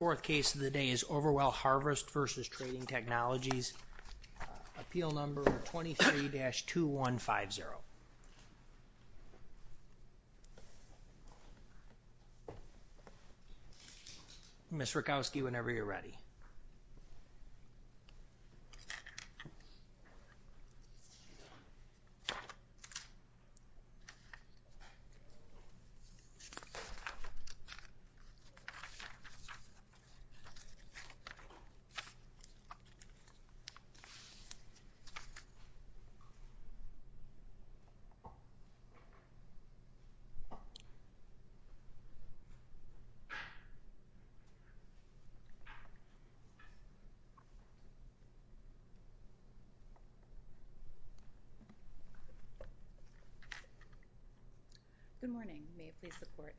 Fourth case of the day is Overwell Harvest v. Trading Technologies, appeal number 23-2150. Miss Rakowski, whenever you're ready. Good morning, may it please the court.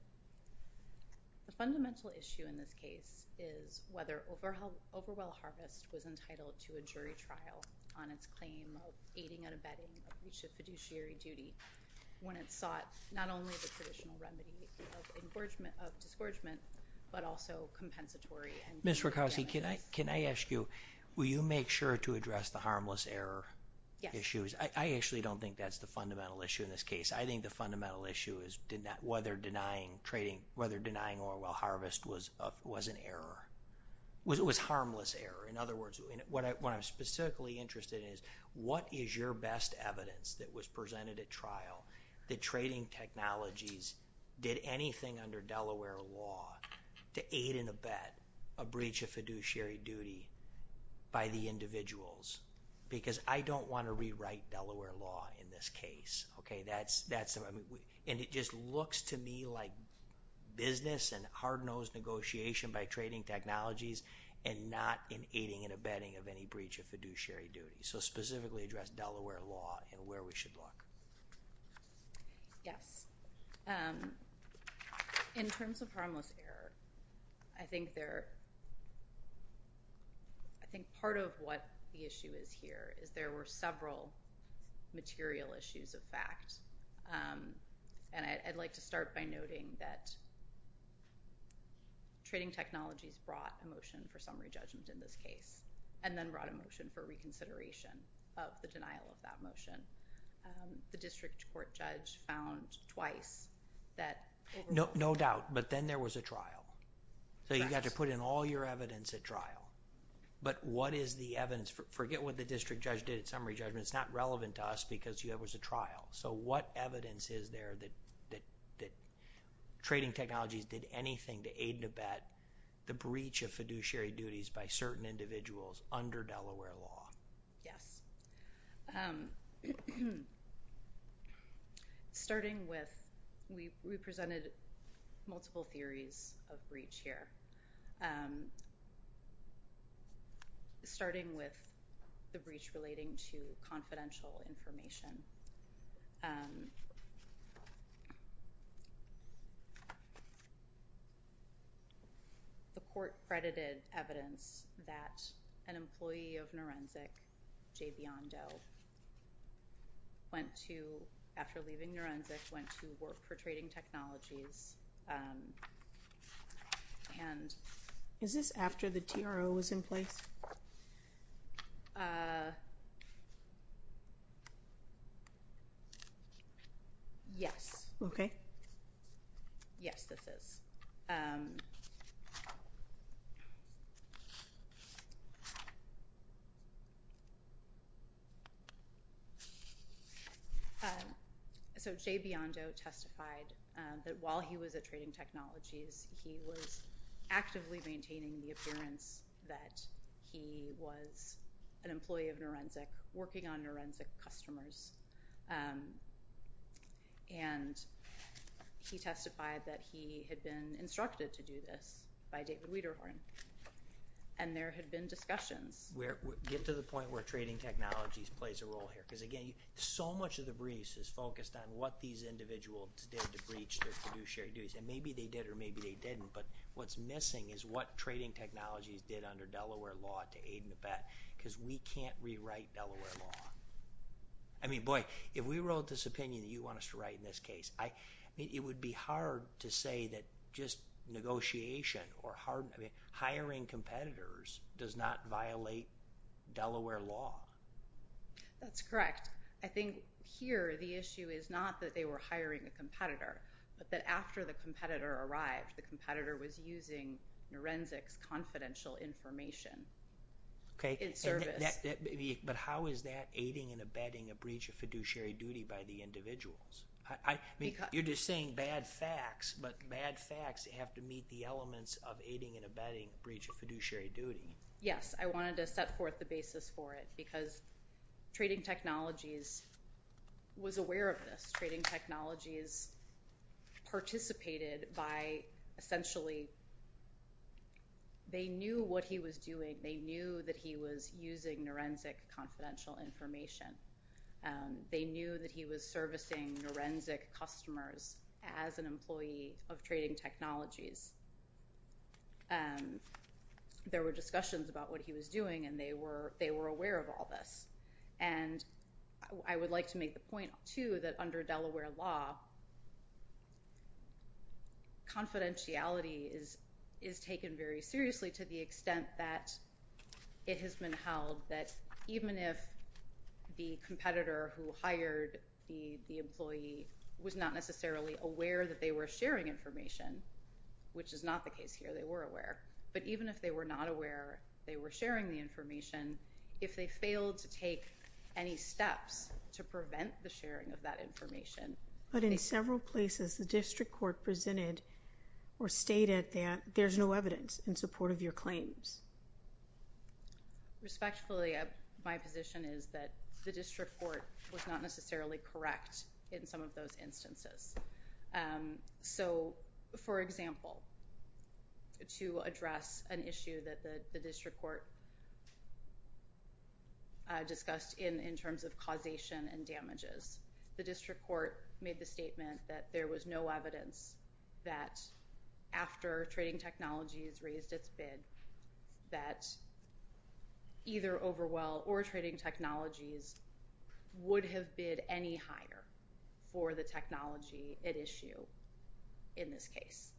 The fundamental issue in this case is whether Overwell Harvest was entitled to a jury trial on its claim of aiding and abetting a breach of fiduciary duty when it sought not only the traditional remedy of discouragement but also compensatory remedies. Miss Rakowski, can I ask you, will you make sure to address the harmless error issues? I actually don't think that's the fundamental issue in this case. I think the fundamental issue is whether denying Overwell Harvest was an error, was harmless error. In other words, what I'm specifically interested in is what is your best evidence that was presented at trial that trading technologies did anything under Delaware law to aid and abet a breach of fiduciary duty by the individuals? Because I don't want to rewrite Delaware law in this case, okay? And it just looks to me like business and hard-nosed negotiation by trading technologies and not in aiding and abetting of any breach of fiduciary duty. So specifically address Delaware law and where we should look. Yes. In terms of harmless error, I think part of what the issue is here is there were several material issues of fact. And I'd like to start by noting that trading technologies brought a motion for summary judgment in this case and then brought a motion for reconsideration of the denial of that motion. The district court judge found twice that— No doubt, but then there was a trial, so you got to put in all your evidence at trial. But what is the evidence—forget what the district judge did at summary judgment, it's not relevant to us because there was a trial. So what evidence is there that trading technologies did anything to aid and abet the breach of fiduciary duties by certain individuals under Delaware law? Yes. Starting with—we presented multiple theories of breach here. Starting with the breach relating to confidential information, the court credited evidence that an employee of Norenzic, J. Biondo, went to—after leaving Norenzic, went to work for trading technologies and— Is this after the TRO was in place? Yes. Okay. Yes, this is. So J. Biondo testified that while he was at trading technologies, he was actively maintaining the appearance that he was an employee of Norenzic working on Norenzic customers, and he testified that he had been instructed to do this by David Wederhorn, and there had been discussions. Get to the point where trading technologies plays a role here because, again, so much of the briefs is focused on what these individuals did to breach their fiduciary duties, and maybe they did or maybe they didn't, but what's missing is what trading technologies did under Delaware law to aid and abet because we can't rewrite Delaware law. I mean, boy, if we wrote this opinion that you want us to write in this case, I mean, it would be hard to say that just negotiation or hiring competitors does not violate Delaware law. That's correct. I think here the issue is not that they were hiring a competitor, but that after the competitor arrived, the competitor was using Norenzic's confidential information in service. But how is that aiding and abetting a breach of fiduciary duty by the individuals? I mean, you're just saying bad facts, but bad facts have to meet the elements of aiding and abetting a breach of fiduciary duty. Yes. I wanted to set forth the basis for it because trading technologies was aware of this. Trading technologies participated by essentially they knew what he was doing. They knew that he was using Norenzic confidential information. They knew that he was servicing Norenzic customers as an employee of trading technologies. There were discussions about what he was doing, and they were aware of all this. And I would like to make the point, too, that under Delaware law, confidentiality is taken very seriously to the extent that it has been held that even if the competitor who hired the employee was not necessarily aware that they were sharing information, which is not the case here. They were aware. But even if they were not aware they were sharing the information, if they failed to take any steps to prevent the sharing of that information— But in several places the district court presented or stated that there's no evidence in support of your claims. Respectfully, my position is that the district court was not necessarily correct in some of those instances. So for example, to address an issue that the district court discussed in terms of causation and damages, the district court made the statement that there was no evidence that after trading technologies raised its bid that either Overwell or trading technologies would have bid any higher for the technology at issue in this case.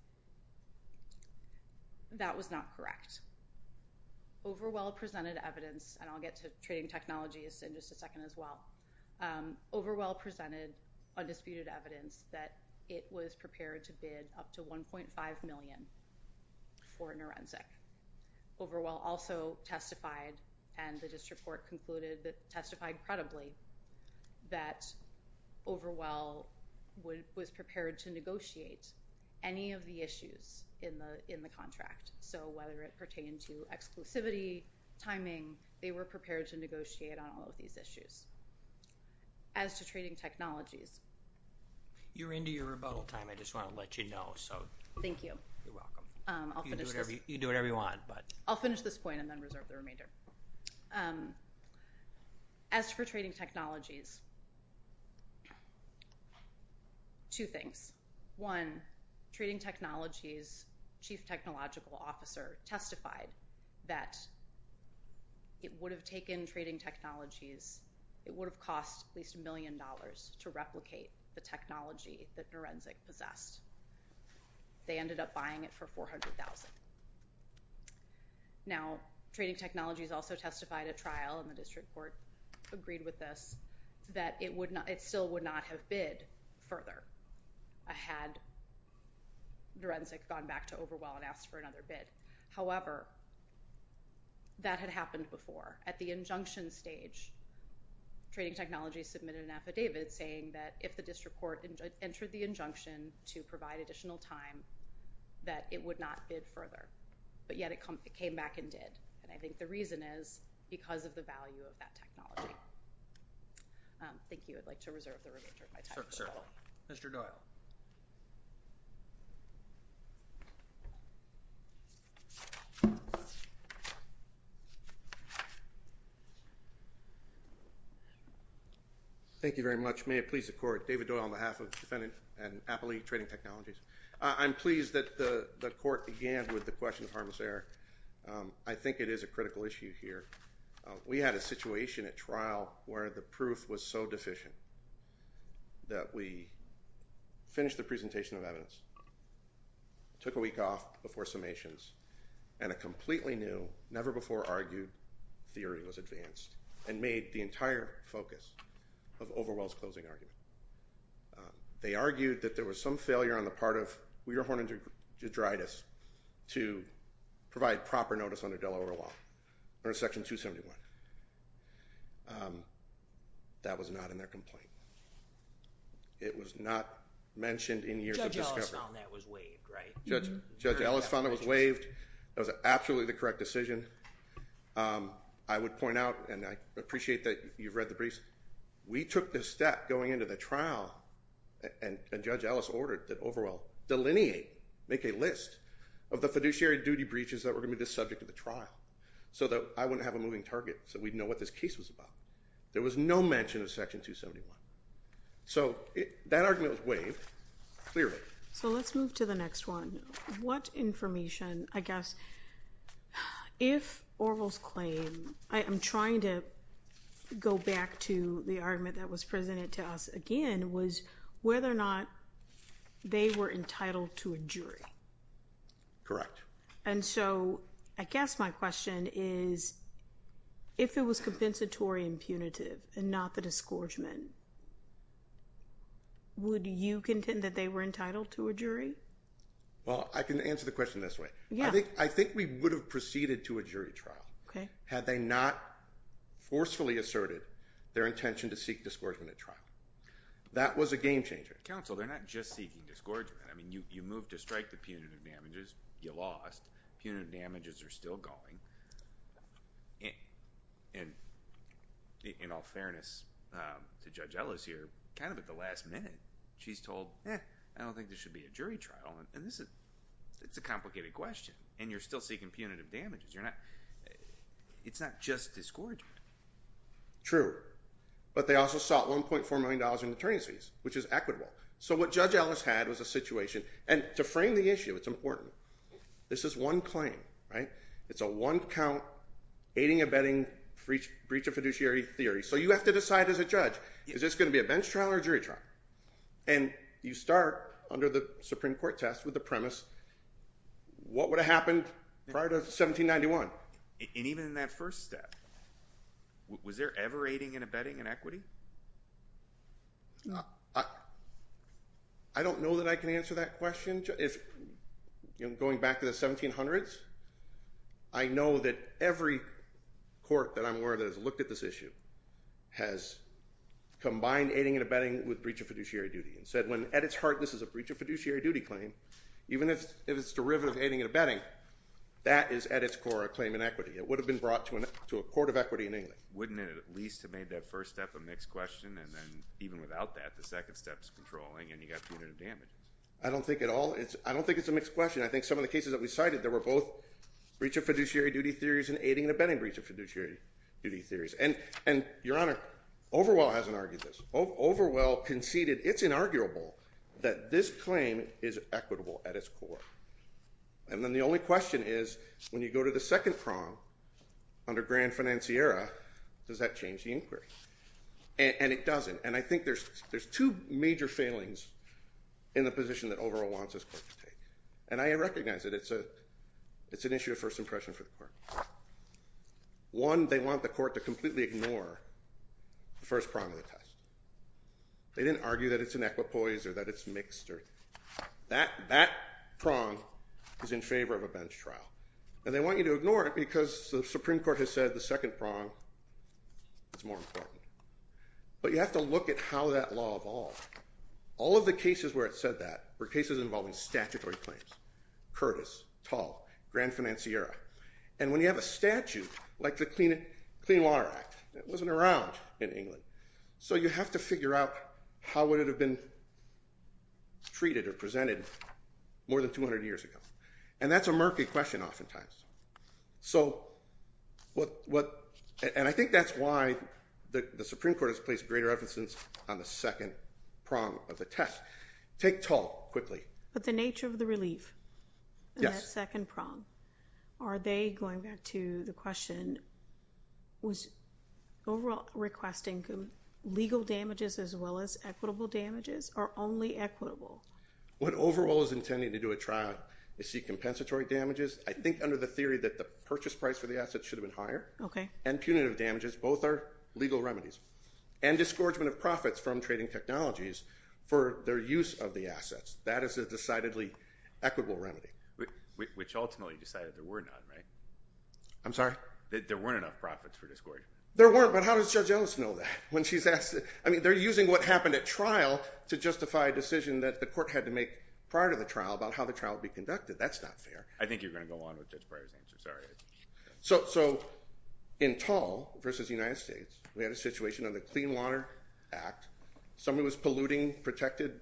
That was not correct. Overwell presented evidence—and I'll get to trading technologies in just a second as well—Overwell presented undisputed evidence that it was prepared to bid up to $1.5 million for an forensic. Overwell also testified, and the district court concluded, testified credibly that Overwell was prepared to negotiate any of the issues in the contract. So whether it pertained to exclusivity, timing, they were prepared to negotiate on all of these issues. As to trading technologies— You're into your rebuttal time. I just want to let you know. So— Thank you. You're welcome. I'll finish this— You can do whatever you want, but— I'll finish this point and then reserve the remainder. As for trading technologies, two things. One, trading technologies' chief technological officer testified that it would have taken trading technologies—it would have cost at least $1 million to replicate the technology that Norenzic possessed. They ended up buying it for $400,000. Now trading technologies also testified at trial, and the district court agreed with us that it still would not have bid further had Norenzic gone back to Overwell and asked for another bid. However, that had happened before. At the injunction stage, trading technologies submitted an affidavit saying that if the district court entered the injunction to provide additional time, that it would not bid further. But yet it came back and did, and I think the reason is because of the value of that technology. Thank you. I'd like to reserve the remainder of my time. Certainly. Mr. Doyle. Thank you very much. May it please the Court. David Doyle on behalf of defendant and appellee trading technologies. I'm pleased that the Court began with the question of harmless air. I think it is a critical issue here. We had a situation at trial where the proof was so deficient that we finished the presentation of evidence, took a week off before summations, and a completely new, never-before-argued theory was advanced and made the entire focus of Overwell's closing argument. They argued that there was some failure on the part of Weerhorn and DeGiudice to provide proper notice under Delaware law, under Section 271. That was not in their complaint. It was not mentioned in years of discovery. Judge Ellis found that was waived, right? Judge Ellis found that was waived. That was absolutely the correct decision. I would point out, and I appreciate that you've read the briefs, we took this step going into the trial, and Judge Ellis ordered that Overwell delineate, make a list of the fiduciary duty breaches that were going to be the subject of the trial, so that I wouldn't have a moving target, so we'd know what this case was about. There was no mention of Section 271. So that argument was waived, clearly. So let's move to the next one. What information, I guess, if Overwell's claim, I am trying to go back to the argument that was presented to us again, was whether or not they were entitled to a jury. Correct. And so, I guess my question is, if it was compensatory and punitive, and not the disgorgement, would you contend that they were entitled to a jury? Well, I can answer the question this way. I think we would have proceeded to a jury trial, had they not forcefully asserted their intention to seek disgorgement at trial. That was a game changer. Counsel, they're not just seeking disgorgement. I mean, you moved to strike the punitive damages, you lost, punitive damages are still going, and in all fairness to Judge Ellis here, kind of at the last minute, she's told, eh, I don't think there should be a jury trial, and this is, it's a complicated question, and you're still seeking punitive damages, you're not, it's not just disgorgement. True. But they also sought $1.4 million in attorneys fees, which is equitable. So what Judge Ellis had was a situation, and to frame the issue, it's important. This is one claim, right? It's a one-count aiding-abetting breach of fiduciary theory, so you have to decide as a judge, is this going to be a bench trial or a jury trial? And you start under the Supreme Court test with the premise, what would have happened prior to 1791? And even in that first step, was there ever aiding and abetting in equity? I don't know that I can answer that question, going back to the 1700s, I know that every court that I'm aware of that has looked at this issue has combined aiding and abetting with breach of fiduciary duty, and said when at its heart this is a breach of fiduciary duty claim, even if it's derivative aiding and abetting, that is at its core a claim in equity. It would have been brought to a court of equity in England. Wouldn't it at least have made that first step a mixed question, and then even without that, the second step's controlling, and you've got punitive damages? I don't think at all. I don't think it's a mixed question. I think some of the cases that we cited, there were both breach of fiduciary duty theories and aiding and abetting breach of fiduciary duty theories. And Your Honor, Overwell hasn't argued this. Overwell conceded it's inarguable that this claim is equitable at its core. And then the only question is, when you go to the second prong, under Grand Financiera, does that change the inquiry? And it doesn't. And I think there's two major failings in the position that Overwell wants this court to take. And I recognize that it's an issue of first impression for the court. One, they want the court to completely ignore the first prong of the test. They didn't argue that it's inequitpoised or that it's mixed. That prong is in favor of a bench trial, and they want you to ignore it because the Supreme Court has said the second prong is more important. But you have to look at how that law evolved. All of the cases where it said that were cases involving statutory claims, Curtis, Tall, Grand Financiera. And when you have a statute like the Clean Water Act, that wasn't around in England. So you have to figure out how would it have been treated or presented more than 200 years ago. And that's a murky question oftentimes. So what, and I think that's why the Supreme Court has placed greater emphasis on the second prong of the test. Take Tall quickly. But the nature of the relief in that second prong, are they, going back to the question, was overall requesting legal damages as well as equitable damages or only equitable? What overall is intending to do at trial is seek compensatory damages. I think under the theory that the purchase price for the assets should have been higher. And punitive damages. Both are legal remedies. And disgorgement of profits from trading technologies for their use of the assets. That is a decidedly equitable remedy. Which ultimately decided there were none, right? I'm sorry? That there weren't enough profits for disgorgement. There weren't, but how does Judge Ellis know that? When she's asked, I mean, they're using what happened at trial to justify a decision that the court had to make prior to the trial about how the trial would be conducted. That's not fair. I think you're going to go on with Judge Breyer's answer. Sorry. So in Tall versus the United States, we had a situation on the Clean Water Act. Somebody was polluting protected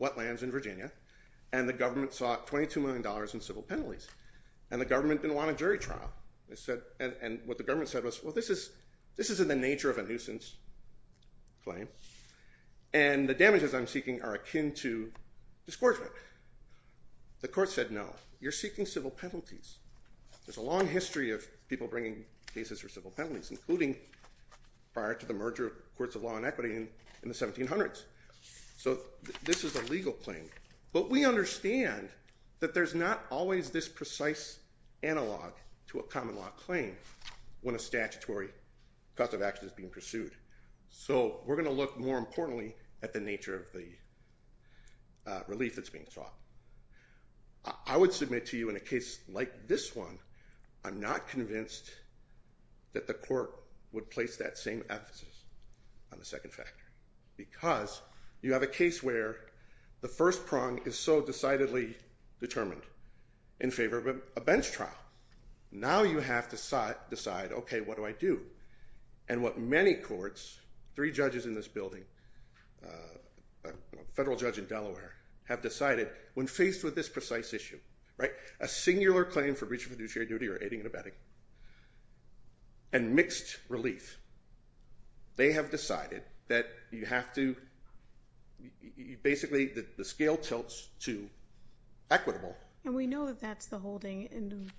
wetlands in Virginia. And the government sought $22 million in civil penalties. And the government didn't want a jury trial. And what the government said was, well, this is in the nature of a nuisance claim. And the damages I'm seeking are akin to disgorgement. The court said, no. You're seeking civil penalties. There's a long history of people bringing cases for civil penalties, including prior to the merger of courts of law and equity in the 1700s. So this is a legal claim. But we understand that there's not always this precise analog to a common law claim when a statutory cause of action is being pursued. So we're going to look more importantly at the nature of the relief that's being sought. I would submit to you in a case like this one, I'm not convinced that the court would place that same emphasis on the second factor, because you have a case where the first prong is so decidedly determined in favor of a bench trial. Now you have to decide, OK, what do I do? And what many courts, three judges in this building, a federal judge in Delaware, have decided when faced with this precise issue, a singular claim for breach of fiduciary duty or aiding and abetting, and mixed relief, they have decided that you have to, basically, the scale tilts to equitable. And we know that that's the holding. And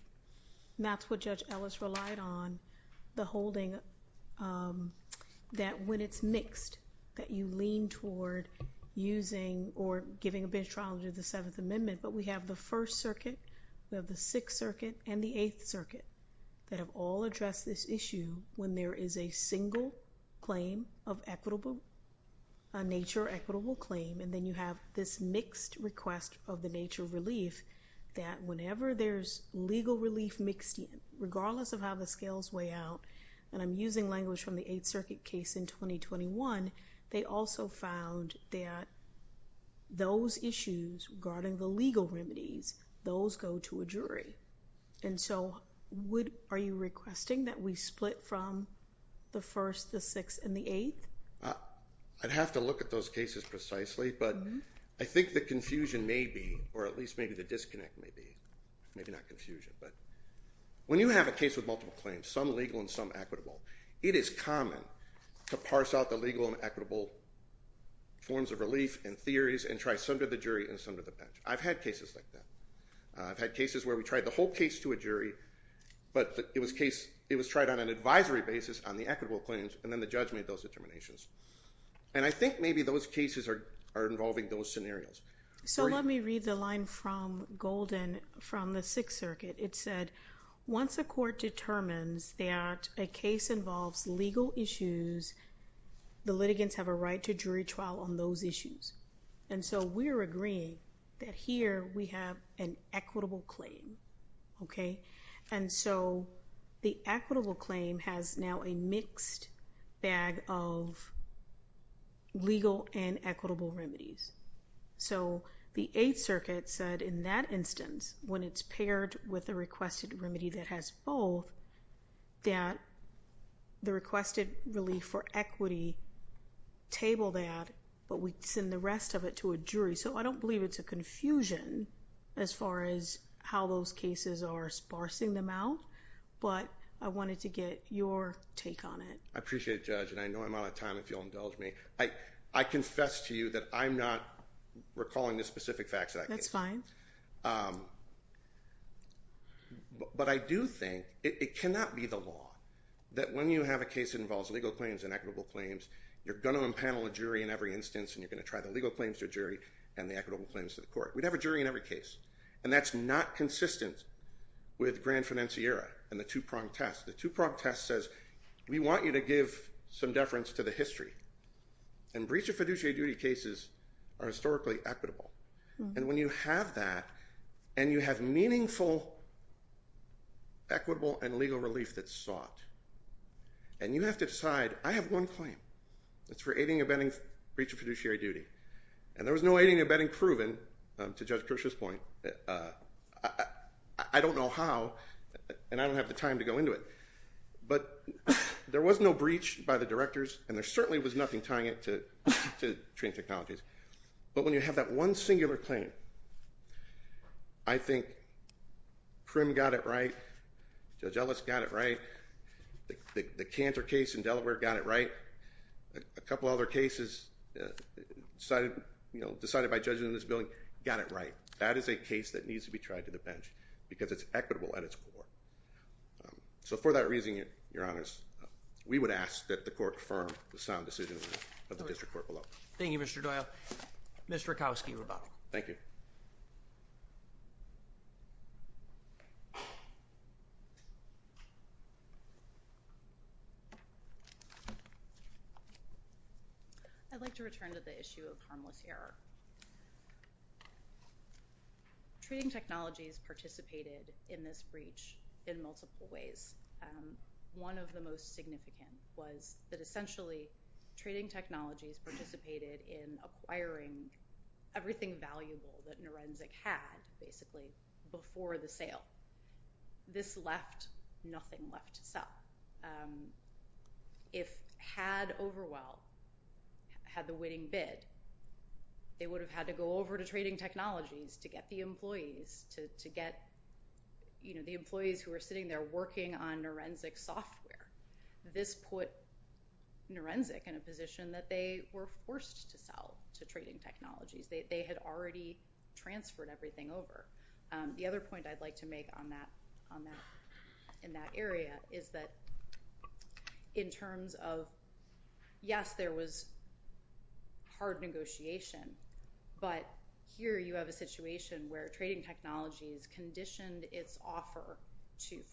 that's what Judge Ellis relied on, the holding that when it's mixed, that you lean toward using or giving a bench trial under the Seventh Amendment. But we have the First Circuit. We have the Sixth Circuit and the Eighth Circuit that have all addressed this issue when there is a single claim of equitable, a nature equitable claim. And then you have this mixed request of the nature of relief that whenever there's legal relief mixed in, regardless of how the scales weigh out, and I'm using language from the Eighth Circuit case in 2021, they also found that those issues regarding the legal remedies, those go to a jury. And so, are you requesting that we split from the First, the Sixth, and the Eighth? I'd have to look at those cases precisely, but I think the confusion may be, or at least maybe the disconnect may be, maybe not confusion. But when you have a case with multiple claims, some legal and some equitable, it is common to parse out the legal and equitable forms of relief and theories and try some to the jury and some to the bench. I've had cases like that. I've had cases where we tried the whole case to a jury, but it was tried on an advisory basis on the equitable claims, and then the judge made those determinations. And I think maybe those cases are involving those scenarios. So let me read the line from Golden from the Sixth Circuit. It said, once a court determines that a case involves legal issues, the litigants have a right to jury trial on those issues. And so, we're agreeing that here we have an equitable claim, okay? And so, the equitable claim has now a mixed bag of legal and equitable remedies. So, the Eighth Circuit said in that instance, when it's paired with a requested remedy that has both, that the requested relief for equity table that, but we send the rest of it to a jury. So, I don't believe it's a confusion as far as how those cases are sparsing them out, but I wanted to get your take on it. I appreciate it, Judge. And I know I'm out of time if you'll indulge me. I confess to you that I'm not recalling the specific facts that I gave you. That's fine. But I do think it cannot be the law that when you have a case that involves legal claims and equitable claims, you're going to impanel a jury in every instance and you're going to try the legal claims to a jury and the equitable claims to the court. We'd have a jury in every case. And that's not consistent with Grand Financiera and the two-pronged test. The two-pronged test says, we want you to give some deference to the history. And breach of fiduciary duty cases are historically equitable. And when you have that and you have meaningful equitable and legal relief that's sought, and you have to decide, I have one claim. It's for aiding and abetting breach of fiduciary duty. And there was no aiding and abetting proven, to Judge Kirsch's point. I don't know how and I don't have the time to go into it. But there was no breach by the directors and there certainly was nothing tying it to training technologies. But when you have that one singular claim, I think Prim got it right. Judge Ellis got it right. The Cantor case in Delaware got it right. A couple other cases decided by judges in this building, got it right. That is a case that needs to be tried to the bench because it's equitable at its core. So for that reason, your honors, we would ask that the court confirm the sound decision of the district court below. Thank you, Mr. Doyle. Mr. Rakowski, you're about. Thank you. I'd like to return to the issue of harmless error. Trading technologies participated in this breach in multiple ways. One of the most significant was that essentially trading technologies participated in acquiring everything valuable that Norenzic had basically before the sale. This left nothing left to sell. If Had Overwell had the winning bid, they would have had to go over to trading technologies to get the employees who were sitting there working on Norenzic software. This put Norenzic in a position that they were forced to sell to trading technologies. They had already transferred everything over. The other point I'd like to make in that area is that in terms of, yes, there was hard negotiation. But here you have a situation where trading technologies conditioned its offer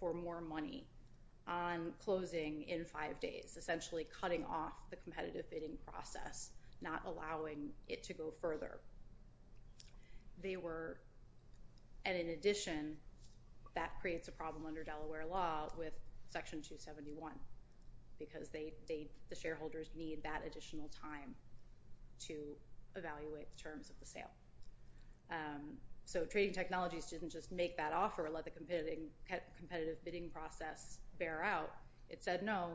for more money on closing in five days, essentially cutting off the competitive bidding process, not allowing it to go further. They were, and in addition, that creates a problem under Delaware law with Section 271 because the shareholders need that additional time to evaluate the terms of the sale. So trading technologies didn't just make that offer, let the competitive bidding process bear out. It said, no,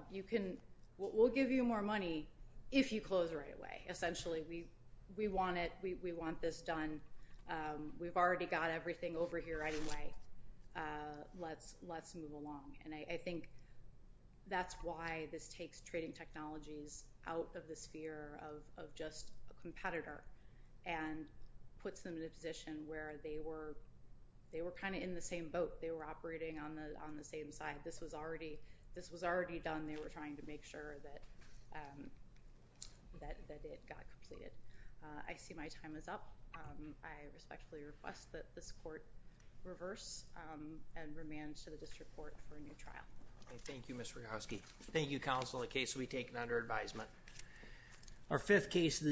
we'll give you more money if you close right away. Essentially, we want this done. We've already got everything over here anyway. Let's move along. And I think that's why this takes trading technologies out of the sphere of just a competitor and puts them in a position where they were kind of in the same boat. They were operating on the same side. This was already done. They were trying to make sure that it got completed. I see my time is up. I respectfully request that this court reverse and remand to the district court for a new trial. Thank you, Ms. Rehowski. Thank you, counsel. The case will be taken under advisement. Our fifth case of the day.